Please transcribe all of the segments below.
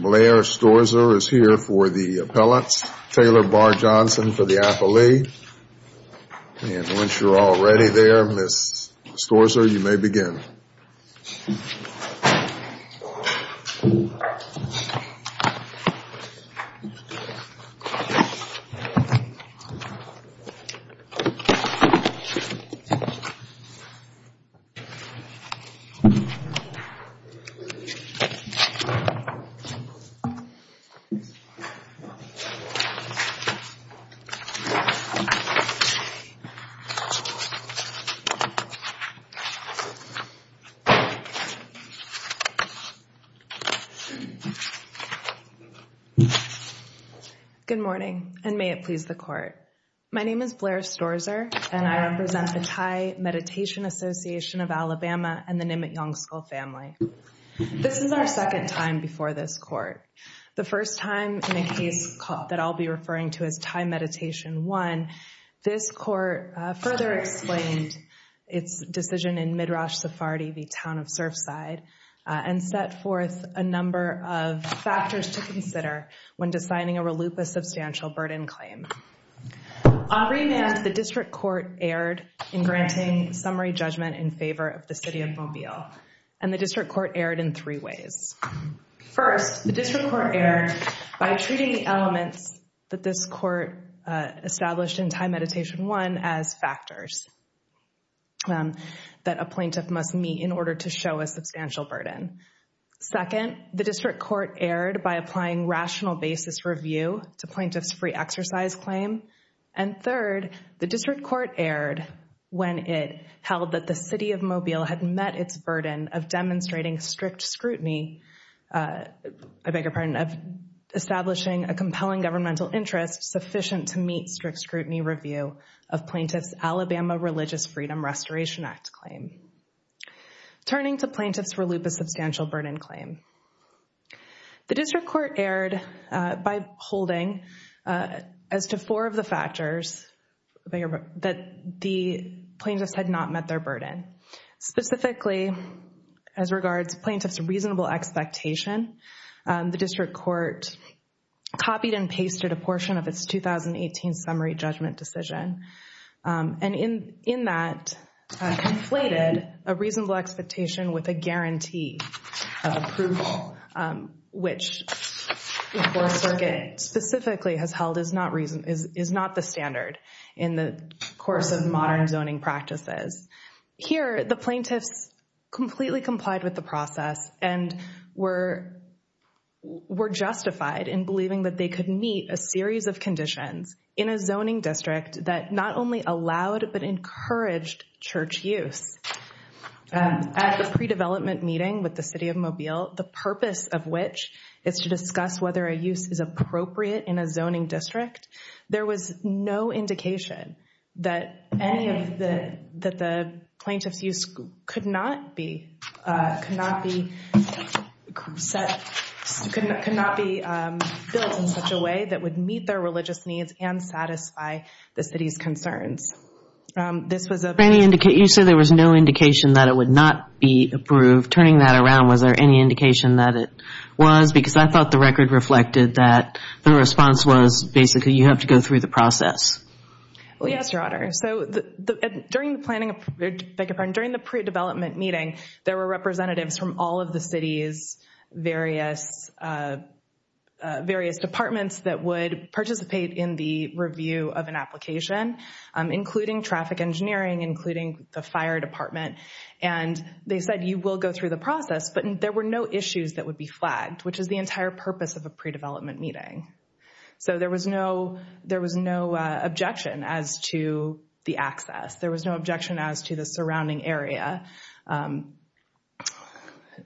Blair Storzer is here for the appellants. Taylor Barr Johnson for the affilee. And once you're all ready there, Ms. Storzer, you may begin. Ms. Storzer is here for the appellant. Good morning, and may it please the Court. My name is Blair Storzer, and I represent the Thai Meditation Association of Alabama and the Nimmit-Yongskal family. This is our second time before this Court. The first time in a case that I'll be referring to as Thai Meditation I, this Court further explained its decision in Midrash Sephardi v. Town of Surfside, and set forth a number of factors to consider when deciding a relupa substantial burden claim. On remand, the District Court erred in granting summary judgment in favor of the City of Mobile, and the District Court erred in three ways. First, the District Court erred by treating the elements that this Court established in Thai Meditation I as factors that a plaintiff must meet in order to show a substantial burden. Second, the District Court erred by applying rational basis review to plaintiffs' free exercise claim. And third, the District Court erred when it held that the City of Mobile had met its burden of demonstrating a compelling governmental interest sufficient to meet strict scrutiny review of plaintiffs' Alabama Religious Freedom Restoration Act claim. Turning to plaintiffs' relupa substantial burden claim, the District Court erred by holding as to four of the factors that the plaintiffs had not met their burden. Specifically, as regards plaintiffs' reasonable expectation, the District Court copied and pasted a portion of its 2018 summary judgment decision, and in that conflated a reasonable expectation with a guarantee of approval, which the Fourth Circuit specifically has held is not the standard in the course of modern zoning practices. Here, the plaintiffs completely complied with the process and were justified in believing that they could meet a series of conditions in a zoning district that not only allowed but encouraged church use. At the pre-development meeting with the City of Mobile, the purpose of which is to discuss whether a use is appropriate in a zoning district, there was no indication that any of the plaintiffs' use could not be built in such a way that would meet their religious needs and satisfy the City's concerns. You said there was no indication that it would not be approved. Turning that around, was there any indication that it was? Because I thought the record reflected that the response was basically you have to go through the process. Yes, Your Honor. During the pre-development meeting, there were representatives from all of the City's various departments that would participate in the review of an application. Including traffic engineering, including the fire department. And they said you will go through the process, but there were no issues that would be flagged, which is the entire purpose of a pre-development meeting. So there was no objection as to the access. There was no objection as to the surrounding area. And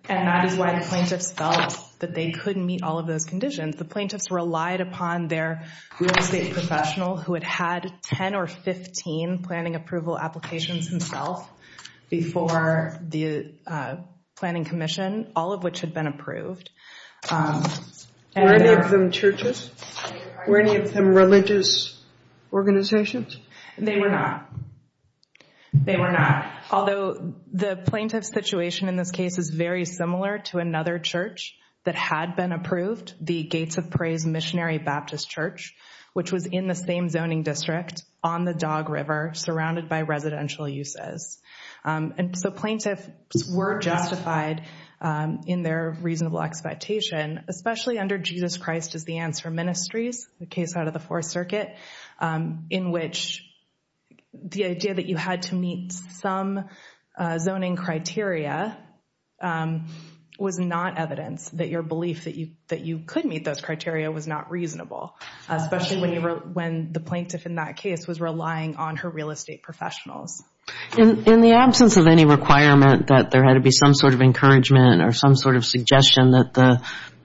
that is why the plaintiffs felt that they couldn't meet all of those conditions. The plaintiffs relied upon their real estate professional who had had 10 or 15 planning approval applications himself before the planning commission. All of which had been approved. Were any of them churches? Were any of them religious organizations? They were not. They were not. Although the plaintiff's situation in this case is very similar to another church that had been approved, the Gates of Praise Missionary Baptist Church. Which was in the same zoning district on the Dog River, surrounded by residential uses. And so plaintiffs were justified in their reasonable expectation. Especially under Jesus Christ as the answer ministries. The case out of the Fourth Circuit. In which the idea that you had to meet some zoning criteria was not evidence that your belief that you could meet those criteria was not reasonable. Especially when the plaintiff in that case was relying on her real estate professionals. In the absence of any requirement that there had to be some sort of encouragement or some sort of suggestion that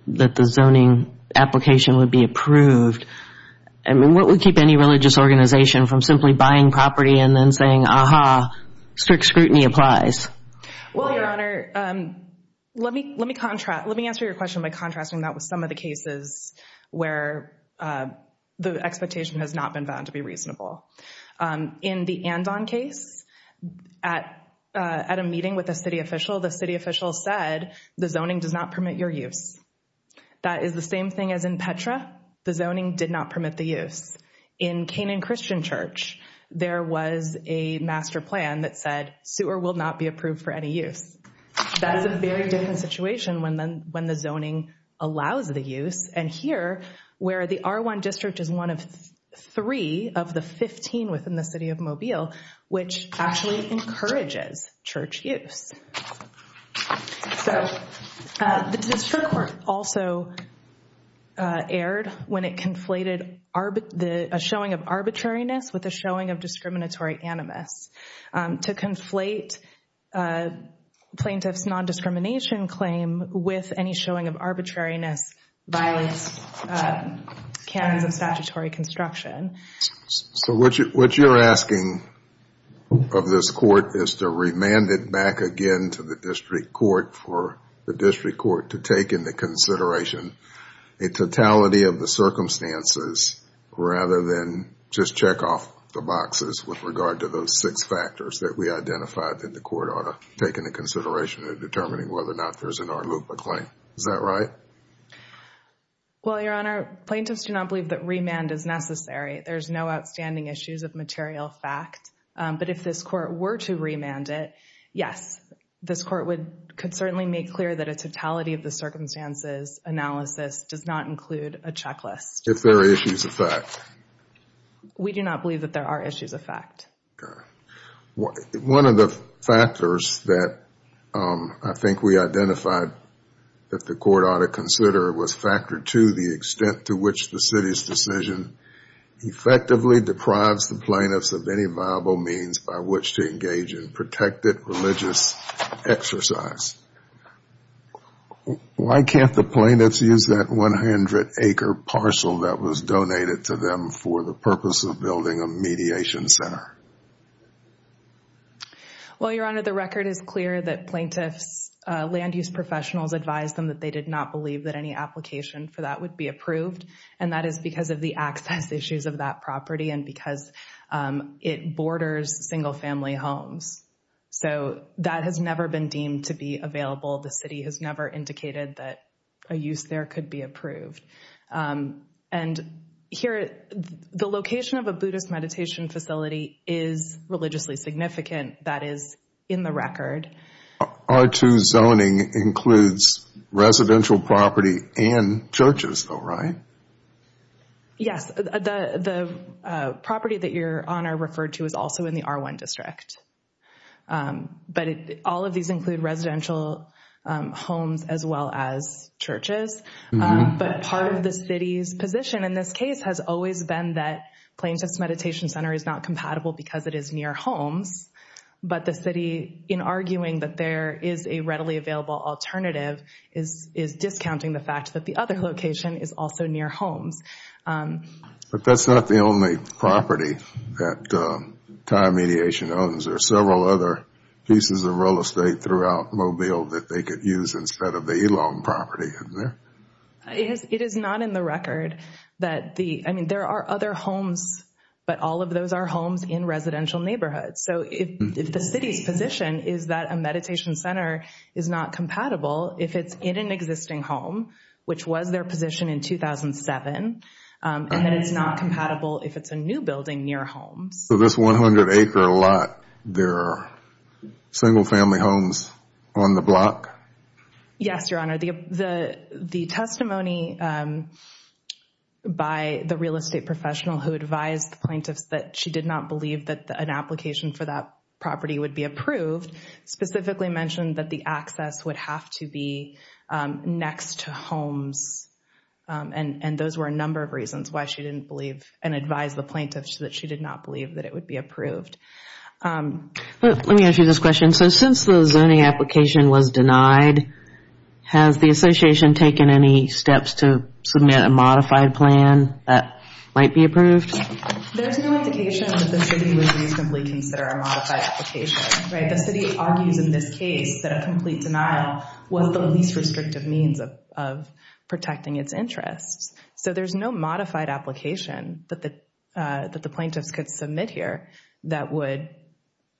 the zoning application would be approved, what would keep any religious organization from simply buying property and then saying, Aha, strict scrutiny applies? Well, Your Honor, let me answer your question by contrasting that with some of the cases where the expectation has not been found to be reasonable. In the Andon case, at a meeting with a city official, the city official said the zoning does not permit your use. That is the same thing as in Petra. The zoning did not permit the use. In Canaan Christian Church, there was a master plan that said sewer will not be approved for any use. That is a very different situation when the zoning allows the use. And here, where the R1 district is one of three of the 15 within the city of Mobile, which actually encourages church use. The district court also erred when it conflated a showing of arbitrariness with a showing of discriminatory animus. To conflate plaintiff's non-discrimination claim with any showing of arbitrariness violates canons of statutory construction. So what you're asking of this court is to remand it back again to the district court for the district court to take into consideration a totality of the circumstances rather than just check off the boxes with regard to those six factors that we identified that the court ought to take into consideration in determining whether or not there's an R loop or claim. Is that right? Well, Your Honor, plaintiffs do not believe that remand is necessary. There's no outstanding issues of material fact, but if this court were to remand it, Yes, this court could certainly make clear that a totality of the circumstances analysis does not include a checklist. If there are issues of fact. We do not believe that there are issues of fact. One of the factors that I think we identified that the court ought to consider was factor two, the extent to which the city's decision effectively deprives the plaintiffs of any viable means by which to engage in protected religious exercise. Why can't the plaintiffs use that 100 acre parcel that was donated to them for the purpose of building a mediation center? Well, Your Honor, the record is clear that plaintiffs land use professionals advised them that they did not believe that any application for that would be approved. And that is because of the access issues of that property and because it borders single family homes. So that has never been deemed to be available. The city has never indicated that a use there could be approved. And here, the location of a Buddhist meditation facility is religiously significant. That is in the record. R2 zoning includes residential property and churches, though, right? Yes, the property that Your Honor referred to is also in the R1 district. But all of these include residential homes as well as churches. But part of the city's position in this case has always been that Plaintiff's Meditation Center is not compatible because it is near homes. But the city, in arguing that there is a readily available alternative, is discounting the fact that the other location is also near homes. But that's not the only property that Thai Mediation owns. There are several other pieces of real estate throughout Mobile that they could use instead of the Elon property, isn't there? It is not in the record. I mean, there are other homes, but all of those are homes in residential neighborhoods. So if the city's position is that a meditation center is not compatible if it's in an existing home, which was their position in 2007, and that it's not compatible if it's a new building near homes. So this 100-acre lot, there are single-family homes on the block? Yes, Your Honor. The testimony by the real estate professional who advised the plaintiffs that she did not believe that an application for that property would be approved specifically mentioned that the access would have to be next to homes. And those were a number of reasons why she didn't believe and advised the plaintiffs that she did not believe that it would be approved. Let me ask you this question. So since the zoning application was denied, has the association taken any steps to submit a modified plan that might be approved? There's no indication that the city would reasonably consider a modified application. Right? The city argues in this case that a complete denial was the least restrictive means of protecting its interests. So there's no modified application that the plaintiffs could submit here that would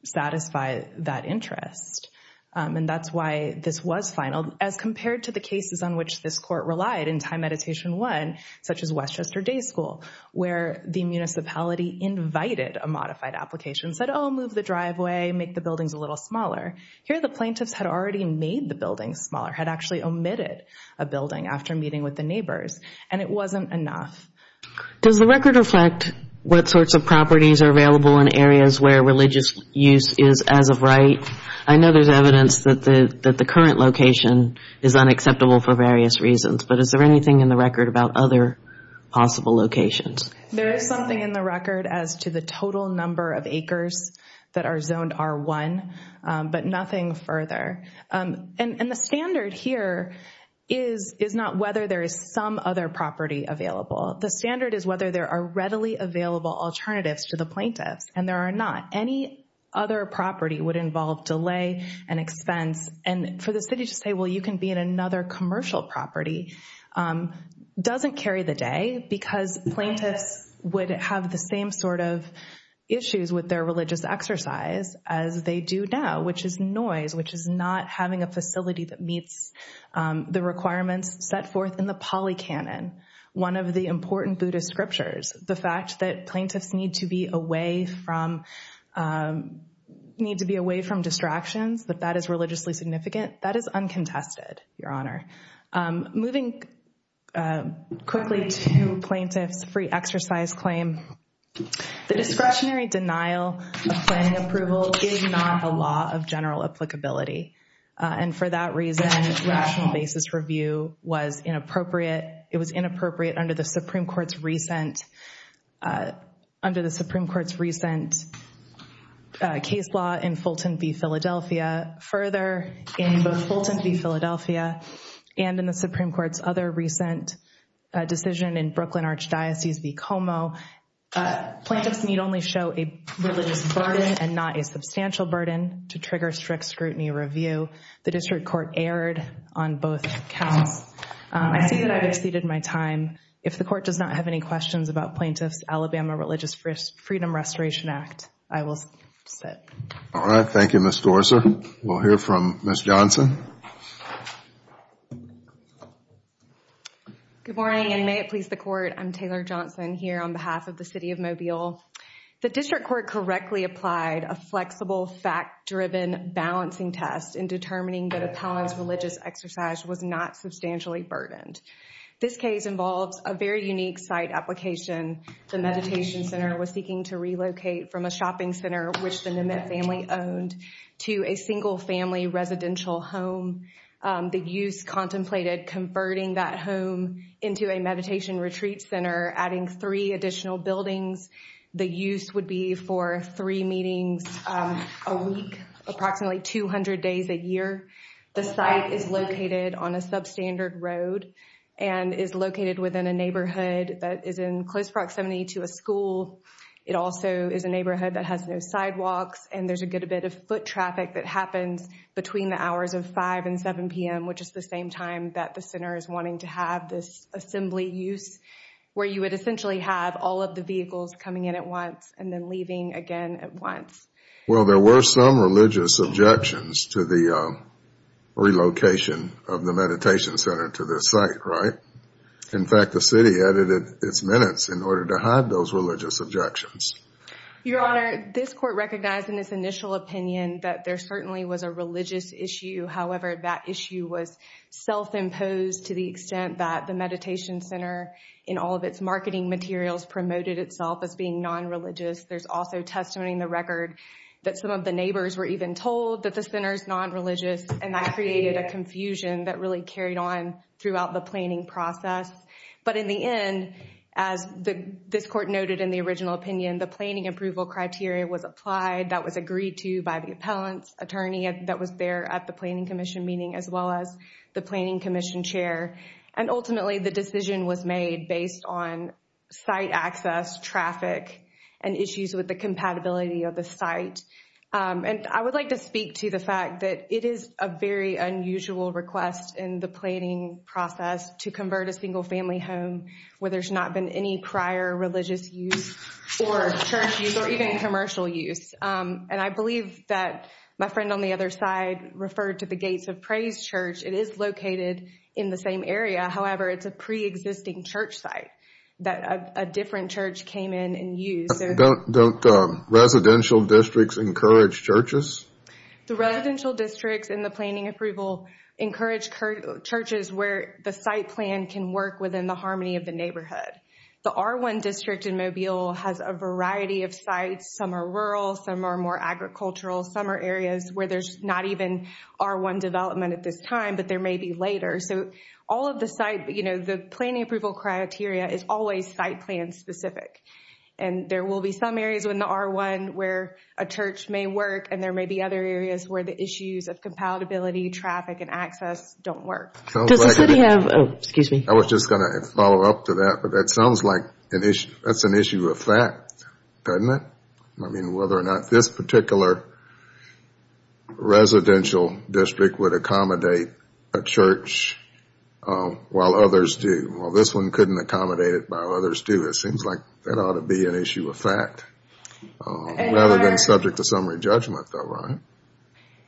satisfy that interest. And that's why this was finaled. As compared to the cases on which this court relied in Time Meditation I, such as Westchester Day School, where the municipality invited a modified application, said, oh, move the driveway, make the buildings a little smaller. Here the plaintiffs had already made the buildings smaller, had actually omitted a building after meeting with the neighbors. And it wasn't enough. Does the record reflect what sorts of properties are available in areas where religious use is as of right? I know there's evidence that the current location is unacceptable for various reasons. But is there anything in the record about other possible locations? There is something in the record as to the total number of acres that are zoned R1, but nothing further. And the standard here is not whether there is some other property available. The standard is whether there are readily available alternatives to the plaintiffs. And there are not. Any other property would involve delay and expense. And for the city to say, well, you can be in another commercial property doesn't carry the day, because plaintiffs would have the same sort of issues with their religious exercise as they do now, which is noise, which is not having a facility that meets the requirements set forth in the Pali Canon, one of the important Buddhist scriptures. The fact that plaintiffs need to be away from distractions, that that is religiously significant, that is uncontested, Your Honor. Moving quickly to plaintiffs' free exercise claim, the discretionary denial of planning approval is not a law of general applicability. And for that reason, rational basis review was inappropriate. It was inappropriate under the Supreme Court's recent case law in Fulton v. Philadelphia. Further, in both Fulton v. Philadelphia and in the Supreme Court's other recent decision in Brooklyn Archdiocese v. Como, plaintiffs need only show a religious burden and not a substantial burden to trigger strict scrutiny review. The district court erred on both counts. I see that I've exceeded my time. If the court does not have any questions about Plaintiff's Alabama Religious Freedom Restoration Act, I will sit. All right. Thank you, Ms. Dorser. We'll hear from Ms. Johnson. Good morning, and may it please the Court. I'm Taylor Johnson here on behalf of the City of Mobile. The district court correctly applied a flexible fact-driven balancing test in determining that a palanced religious exercise was not substantially burdened. This case involves a very unique site application. The meditation center was seeking to relocate from a shopping center, which the Nimmitt family owned, to a single-family residential home. The use contemplated converting that home into a meditation retreat center, adding three additional buildings. The use would be for three meetings a week, approximately 200 days a year. The site is located on a substandard road and is located within a neighborhood that is in close proximity to a school. It also is a neighborhood that has no sidewalks, and there's a good bit of foot traffic that happens between the hours of 5 and 7 p.m., which is the same time that the center is wanting to have this assembly use, where you would essentially have all of the vehicles coming in at once and then leaving again at once. Well, there were some religious objections to the relocation of the meditation center to this site, right? In fact, the city added its minutes in order to hide those religious objections. Your Honor, this court recognized in its initial opinion that there certainly was a religious issue. However, that issue was self-imposed to the extent that the meditation center, in all of its marketing materials, promoted itself as being non-religious. There's also testimony in the record that some of the neighbors were even told that the center is non-religious, and that created a confusion that really carried on throughout the planning process. But in the end, as this court noted in the original opinion, the planning approval criteria was applied. That was agreed to by the appellant's attorney that was there at the planning commission meeting, as well as the planning commission chair. And ultimately, the decision was made based on site access, traffic, and issues with the compatibility of the site. And I would like to speak to the fact that it is a very unusual request in the planning process to convert a single-family home, where there's not been any prior religious use or church use or even commercial use. And I believe that my friend on the other side referred to the Gates of Praise Church. It is located in the same area. However, it's a pre-existing church site that a different church came in and used. Don't residential districts encourage churches? The residential districts in the planning approval encourage churches where the site plan can work within the harmony of the neighborhood. The R1 district in Mobile has a variety of sites. Some are rural. Some are more agricultural. Some are areas where there's not even R1 development at this time, but there may be later. So all of the site, you know, the planning approval criteria is always site plan specific. And there will be some areas in the R1 where a church may work, and there may be other areas where the issues of compatibility, traffic, and access don't work. Does the city have, oh, excuse me. I was just going to follow up to that. But that sounds like that's an issue of fact, doesn't it? I mean, whether or not this particular residential district would accommodate a church while others do. Well, this one couldn't accommodate it while others do. So it seems like that ought to be an issue of fact rather than subject to summary judgment though, right?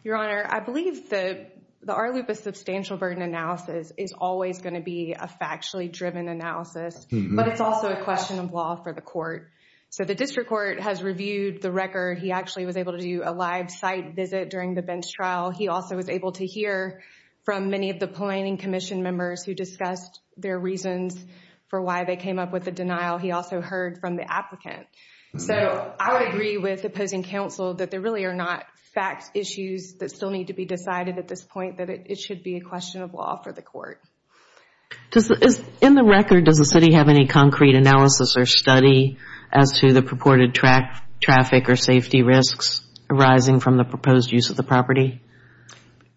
Your Honor, I believe the R-Lupa substantial burden analysis is always going to be a factually driven analysis. But it's also a question of law for the court. So the district court has reviewed the record. He actually was able to do a live site visit during the Benz trial. He also was able to hear from many of the planning commission members who discussed their reasons for why they came up with the denial. He also heard from the applicant. So I would agree with opposing counsel that there really are not fact issues that still need to be decided at this point, that it should be a question of law for the court. In the record, does the city have any concrete analysis or study as to the purported traffic or safety risks arising from the proposed use of the property?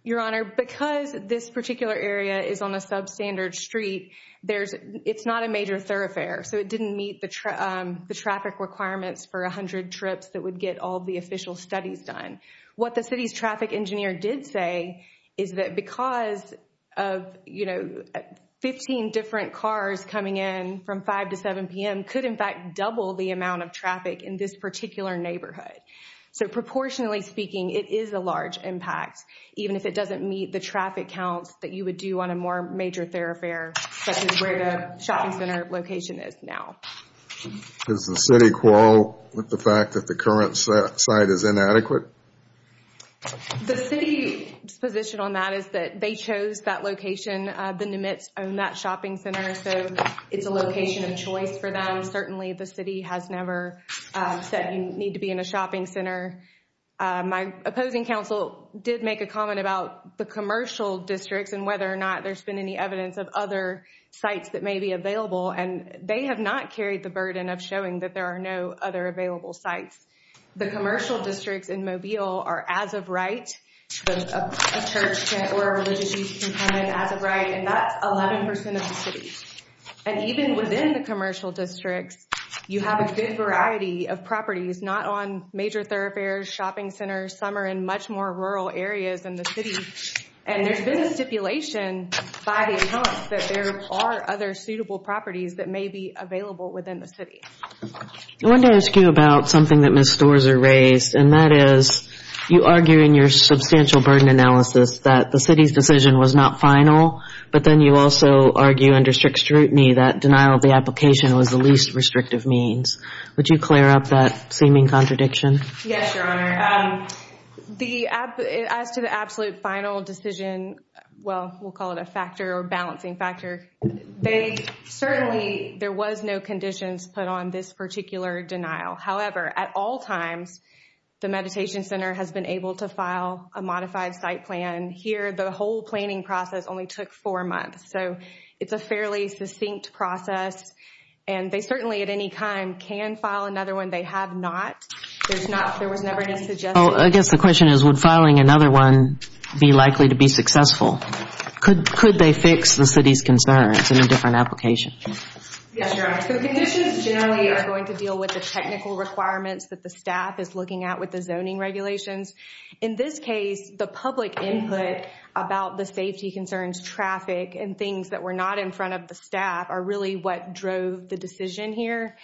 Your Honor, because this particular area is on a substandard street, it's not a major thoroughfare. So it didn't meet the traffic requirements for 100 trips that would get all the official studies done. What the city's traffic engineer did say is that because of, you know, So proportionally speaking, it is a large impact, even if it doesn't meet the traffic counts that you would do on a more major thoroughfare, such as where the shopping center location is now. Does the city quarrel with the fact that the current site is inadequate? The city's position on that is that they chose that location. The Nimitz own that shopping center, so it's a location of choice for them. Certainly the city has never said you need to be in a shopping center. My opposing counsel did make a comment about the commercial districts and whether or not there's been any evidence of other sites that may be available. And they have not carried the burden of showing that there are no other available sites. The commercial districts in Mobile are as of right. A church or a religious youth can come in as of right, and that's 11% of the city. And even within the commercial districts, you have a good variety of properties, not on major thoroughfares, shopping centers. Some are in much more rural areas than the city. And there's been a stipulation by the accounts that there are other suitable properties that may be available within the city. I wanted to ask you about something that Ms. Storrs raised, and that is you argue in your substantial burden analysis that the city's decision was not final, but then you also argue under strict scrutiny that denial of the application was the least restrictive means. Would you clear up that seeming contradiction? Yes, Your Honor. As to the absolute final decision, well, we'll call it a factor or balancing factor, certainly there was no conditions put on this particular denial. However, at all times, the Meditation Center has been able to file a modified site plan. Here, the whole planning process only took four months. So it's a fairly succinct process, and they certainly at any time can file another one. They have not. There was never any suggestion. Well, I guess the question is, would filing another one be likely to be successful? Could they fix the city's concerns in a different application? Yes, Your Honor. The conditions generally are going to deal with the technical requirements that the staff is looking at with the zoning regulations. In this case, the public input about the safety concerns, traffic, and things that were not in front of the staff are really what drove the decision here.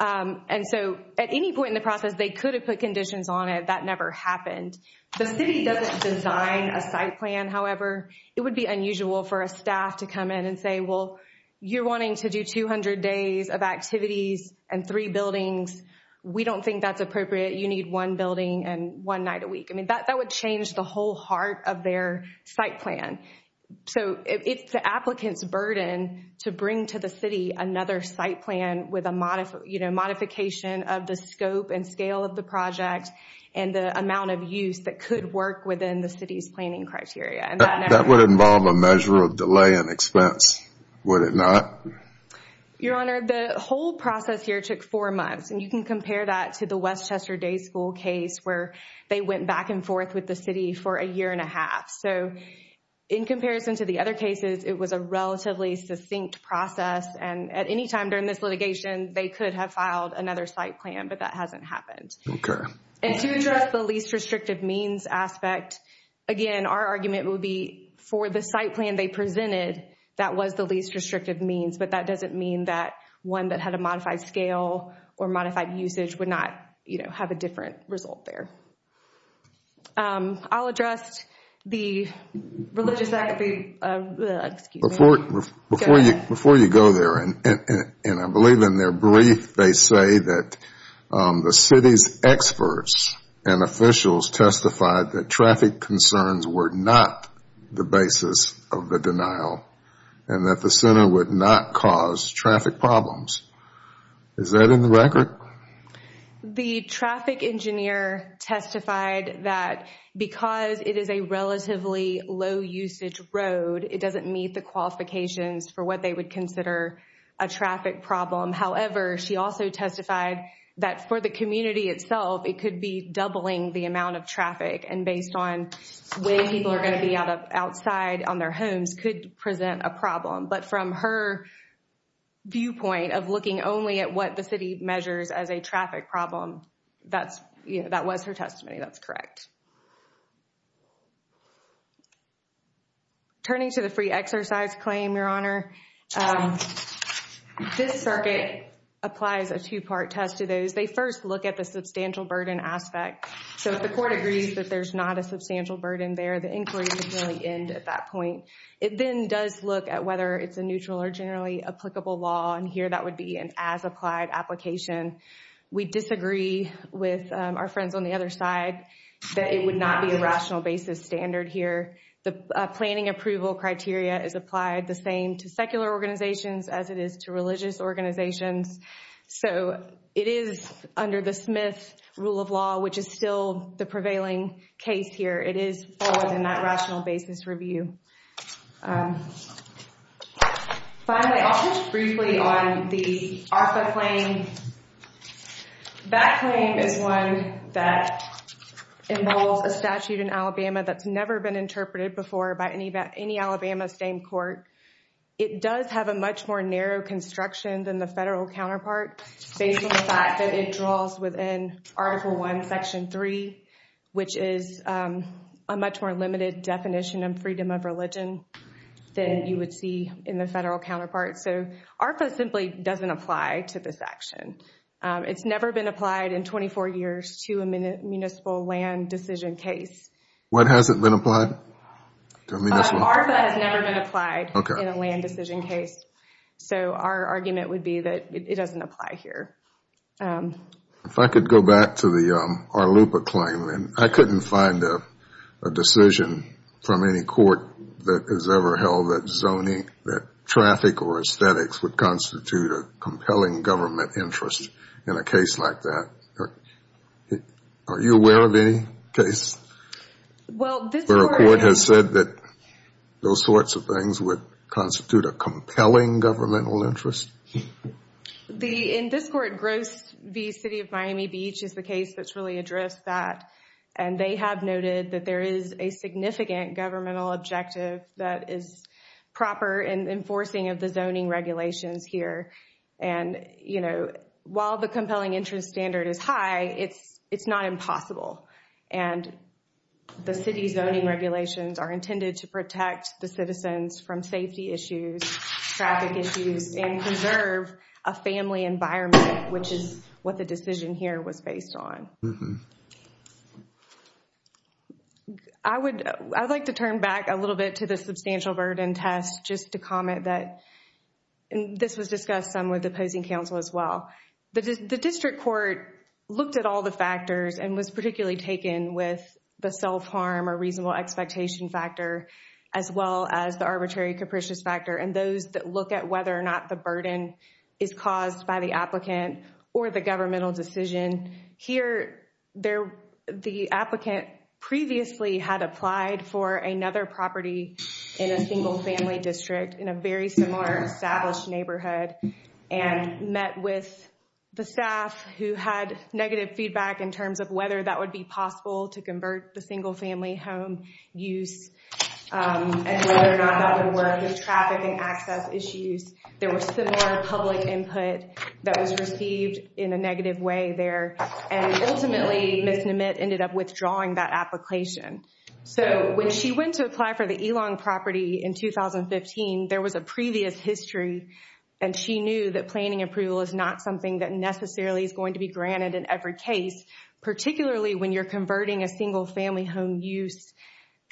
And so at any point in the process, they could have put conditions on it. That never happened. The city doesn't design a site plan, however. It would be unusual for a staff to come in and say, well, you're wanting to do 200 days of activities and three buildings. We don't think that's appropriate. You need one building and one night a week. I mean, that would change the whole heart of their site plan. So it's the applicant's burden to bring to the city another site plan with a modification of the scope and scale of the project and the amount of use that could work within the city's planning criteria. That would involve a measure of delay and expense, would it not? Your Honor, the whole process here took four months, and you can compare that to the Westchester Day School case where they went back and forth with the city for a year and a half. So in comparison to the other cases, it was a relatively succinct process, and at any time during this litigation, they could have filed another site plan, but that hasn't happened. Okay. And to address the least restrictive means aspect, again, our argument would be for the site plan they presented, that was the least restrictive means, but that doesn't mean that one that had a modified scale or modified usage would not have a different result there. I'll address the religious activity. Before you go there, and I believe in their brief, they say that the city's experts and officials testified that traffic concerns were not the basis of the denial and that the center would not cause traffic problems. Is that in the record? The traffic engineer testified that because it is a relatively low usage road, it doesn't meet the qualifications for what they would consider a traffic problem. However, she also testified that for the community itself, it could be doubling the amount of traffic, and based on where people are going to be outside on their homes, this could present a problem. But from her viewpoint of looking only at what the city measures as a traffic problem, that was her testimony. That's correct. Turning to the free exercise claim, Your Honor, this circuit applies a two-part test to those. They first look at the substantial burden aspect. So if the court agrees that there's not a substantial burden there, the inquiry would really end at that point. It then does look at whether it's a neutral or generally applicable law, and here that would be an as-applied application. We disagree with our friends on the other side that it would not be a rational basis standard here. The planning approval criteria is applied the same to secular organizations as it is to religious organizations. So it is under the Smith rule of law, which is still the prevailing case here. It is forward in that rational basis review. Finally, I'll touch briefly on the ARFA claim. That claim is one that involves a statute in Alabama that's never been interpreted before by any Alabama state court. It does have a much more narrow construction than the federal counterpart based on the fact that it draws within Article I, Section 3, which is a much more limited definition of freedom of religion than you would see in the federal counterpart. So ARFA simply doesn't apply to this action. It's never been applied in 24 years to a municipal land decision case. What hasn't been applied? ARFA has never been applied in a land decision case. So our argument would be that it doesn't apply here. If I could go back to the ARLUPA claim, I couldn't find a decision from any court that has ever held that zoning, that traffic or aesthetics would constitute a compelling government interest in a case like that. Are you aware of any case where a court has said that those sorts of things would constitute a compelling governmental interest? In this court, Gross v. City of Miami Beach is the case that's really addressed that. And they have noted that there is a significant governmental objective that is proper in enforcing of the zoning regulations here. And, you know, while the compelling interest standard is high, it's not impossible. And the city's zoning regulations are intended to protect the citizens from safety issues, traffic issues, and conserve a family environment, which is what the decision here was based on. I would like to turn back a little bit to the substantial burden test just to comment that this was discussed some with opposing counsel as well. The district court looked at all the factors and was particularly taken with the self-harm or reasonable expectation factor as well as the arbitrary capricious factor and those that look at whether or not the burden is caused by the applicant or the governmental decision. Here, the applicant previously had applied for another property in a single-family district in a very similar established neighborhood and met with the staff who had negative feedback in terms of whether that would be possible to convert the single-family home use and whether or not that would work with traffic and access issues. There was similar public input that was received in a negative way there. And ultimately, Ms. Nemit ended up withdrawing that application. So when she went to apply for the Elong property in 2015, there was a previous history, and she knew that planning approval is not something that necessarily is going to be granted in every case, particularly when you're converting a single-family home use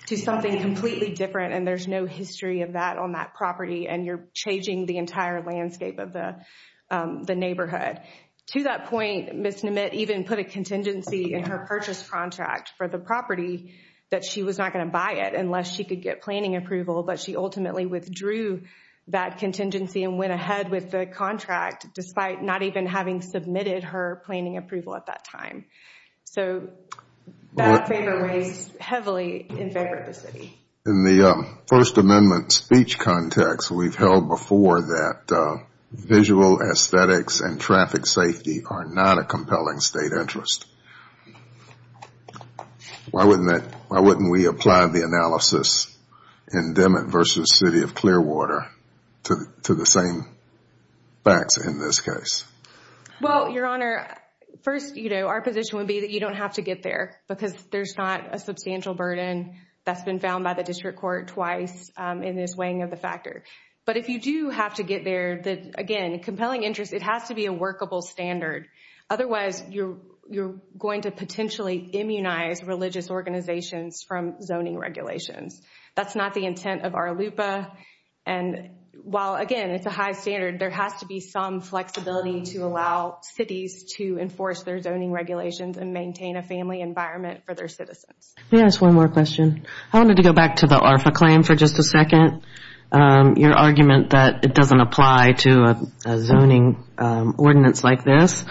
to something completely different and there's no history of that on that property and you're changing the entire landscape of the neighborhood. To that point, Ms. Nemit even put a contingency in her purchase contract for the property that she was not going to buy it unless she could get planning approval, but she ultimately withdrew that contingency and went ahead with the contract despite not even having submitted her planning approval at that time. So that favor weighs heavily in favor of the city. In the First Amendment speech context, we've held before that visual aesthetics and traffic safety are not a compelling state interest. Why wouldn't we apply the analysis in Demet versus City of Clearwater to the same facts in this case? Well, Your Honor, first, our position would be that you don't have to get there because there's not a substantial burden that's been found by the district court twice in this weighing of the factor. But if you do have to get there, again, compelling interest, it has to be a workable standard. Otherwise, you're going to potentially immunize religious organizations from zoning regulations. That's not the intent of our LUPA. And while, again, it's a high standard, there has to be some flexibility to allow cities to enforce their zoning regulations and maintain a family environment for their citizens. Can I ask one more question? I wanted to go back to the ARFA claim for just a second, your argument that it doesn't apply to a zoning ordinance like this.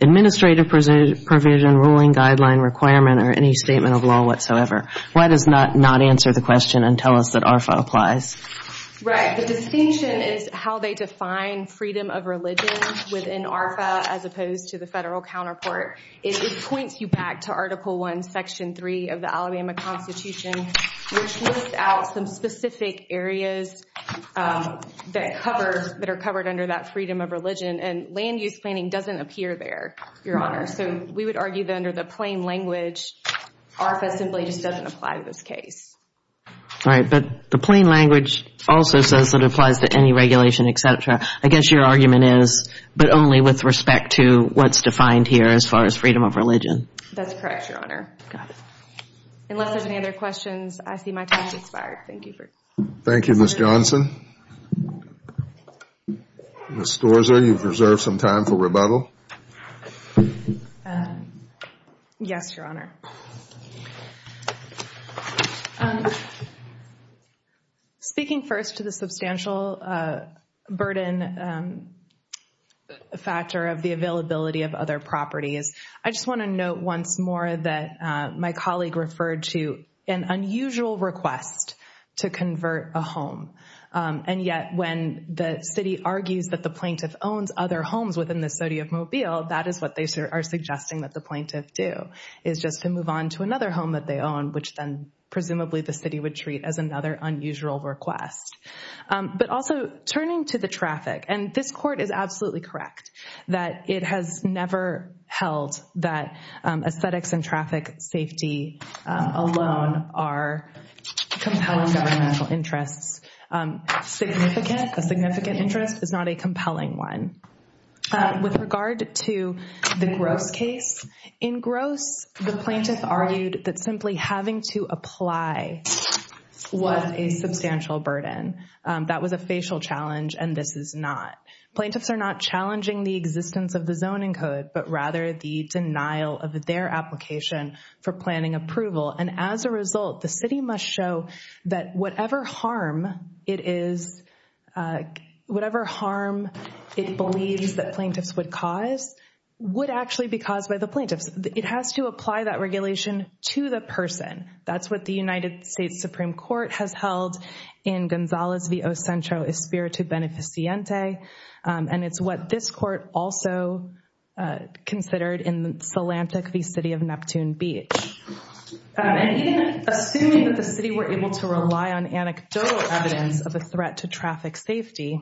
Administrative provision, ruling guideline requirement, or any statement of law whatsoever. Why does it not answer the question and tell us that ARFA applies? Right. The distinction is how they define freedom of religion within ARFA as opposed to the federal counterpart. It points you back to Article I, Section 3 of the Alabama Constitution, which lists out some specific areas that are covered under that freedom of religion. And land use planning doesn't appear there, Your Honor. So we would argue that under the plain language, ARFA simply just doesn't apply to this case. All right. But the plain language also says that it applies to any regulation, et cetera. I guess your argument is but only with respect to what's defined here as far as freedom of religion. That's correct, Your Honor. Unless there's any other questions, I see my time has expired. Thank you. Thank you, Ms. Johnson. Ms. Storza, you've reserved some time for rebuttal. Yes, Your Honor. Speaking first to the substantial burden factor of the availability of other properties, I just want to note once more that my colleague referred to an unusual request to convert a home, and yet when the city argues that the plaintiff owns other homes within the city of Mobile, that is what they are suggesting that the plaintiff do, is just to move on to another home that they own, which then presumably the city would treat as another unusual request. But also turning to the traffic, and this court is absolutely correct that it has never held that aesthetics and traffic safety alone are compelling governmental interests. A significant interest is not a compelling one. With regard to the Gross case, in Gross, the plaintiff argued that simply having to apply was a substantial burden. That was a facial challenge, and this is not. Plaintiffs are not challenging the existence of the zoning code, but rather the denial of their application for planning approval. And as a result, the city must show that whatever harm it is, whatever harm it believes that plaintiffs would cause would actually be caused by the plaintiffs. It has to apply that regulation to the person. That's what the United States Supreme Court has held in Gonzales v. Osencio, Espiritu Beneficiante, and it's what this court also considered in Salantic v. City of Neptune Beach. And even assuming that the city were able to rely on anecdotal evidence of a threat to traffic safety,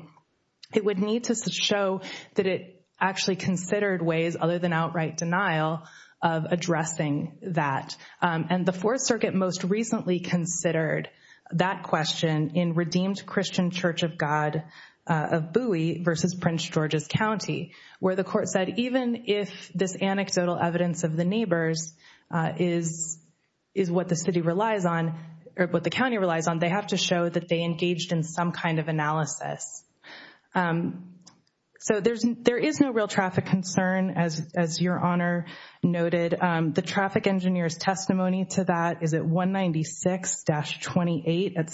it would need to show that it actually considered ways other than outright denial of addressing that. And the Fourth Circuit most recently considered that question in Redeemed Christian Church of God of Bowie v. Prince George's County, where the court said even if this anecdotal evidence of the neighbors is what the city relies on or what the county relies on, they have to show that they engaged in some kind of analysis. So there is no real traffic concern, as Your Honor noted. The traffic engineer's testimony to that is at 196-28 at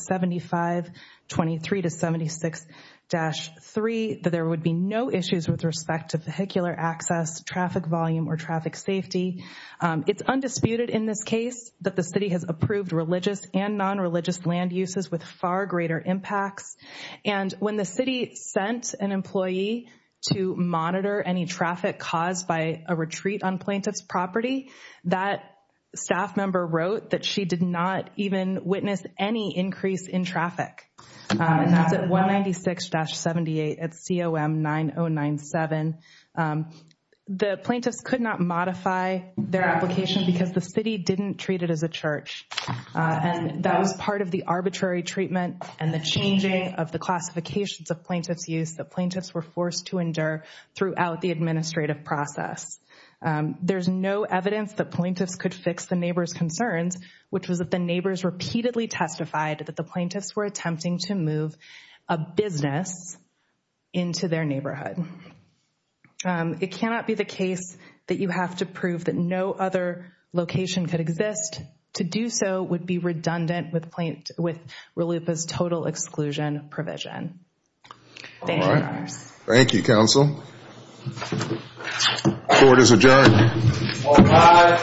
7523-76-3, that there would be no issues with respect to vehicular access, traffic volume, or traffic safety. It's undisputed in this case that the city has approved religious and nonreligious land uses with far greater impacts. And when the city sent an employee to monitor any traffic caused by a retreat on plaintiff's property, that staff member wrote that she did not even witness any increase in traffic. And that's at 196-78 at COM 9097. The plaintiffs could not modify their application because the city didn't treat it as a church. And that was part of the arbitrary treatment and the changing of the classifications of plaintiff's use that plaintiffs were forced to endure throughout the administrative process. There's no evidence that plaintiffs could fix the neighbors' concerns, which was that the neighbors repeatedly testified that the plaintiffs were attempting to move a business into their neighborhood. It cannot be the case that you have to prove that no other location could exist. To do so would be redundant with RLUIPA's total exclusion provision. Thank you. Thank you, counsel. Court is adjourned. All rise.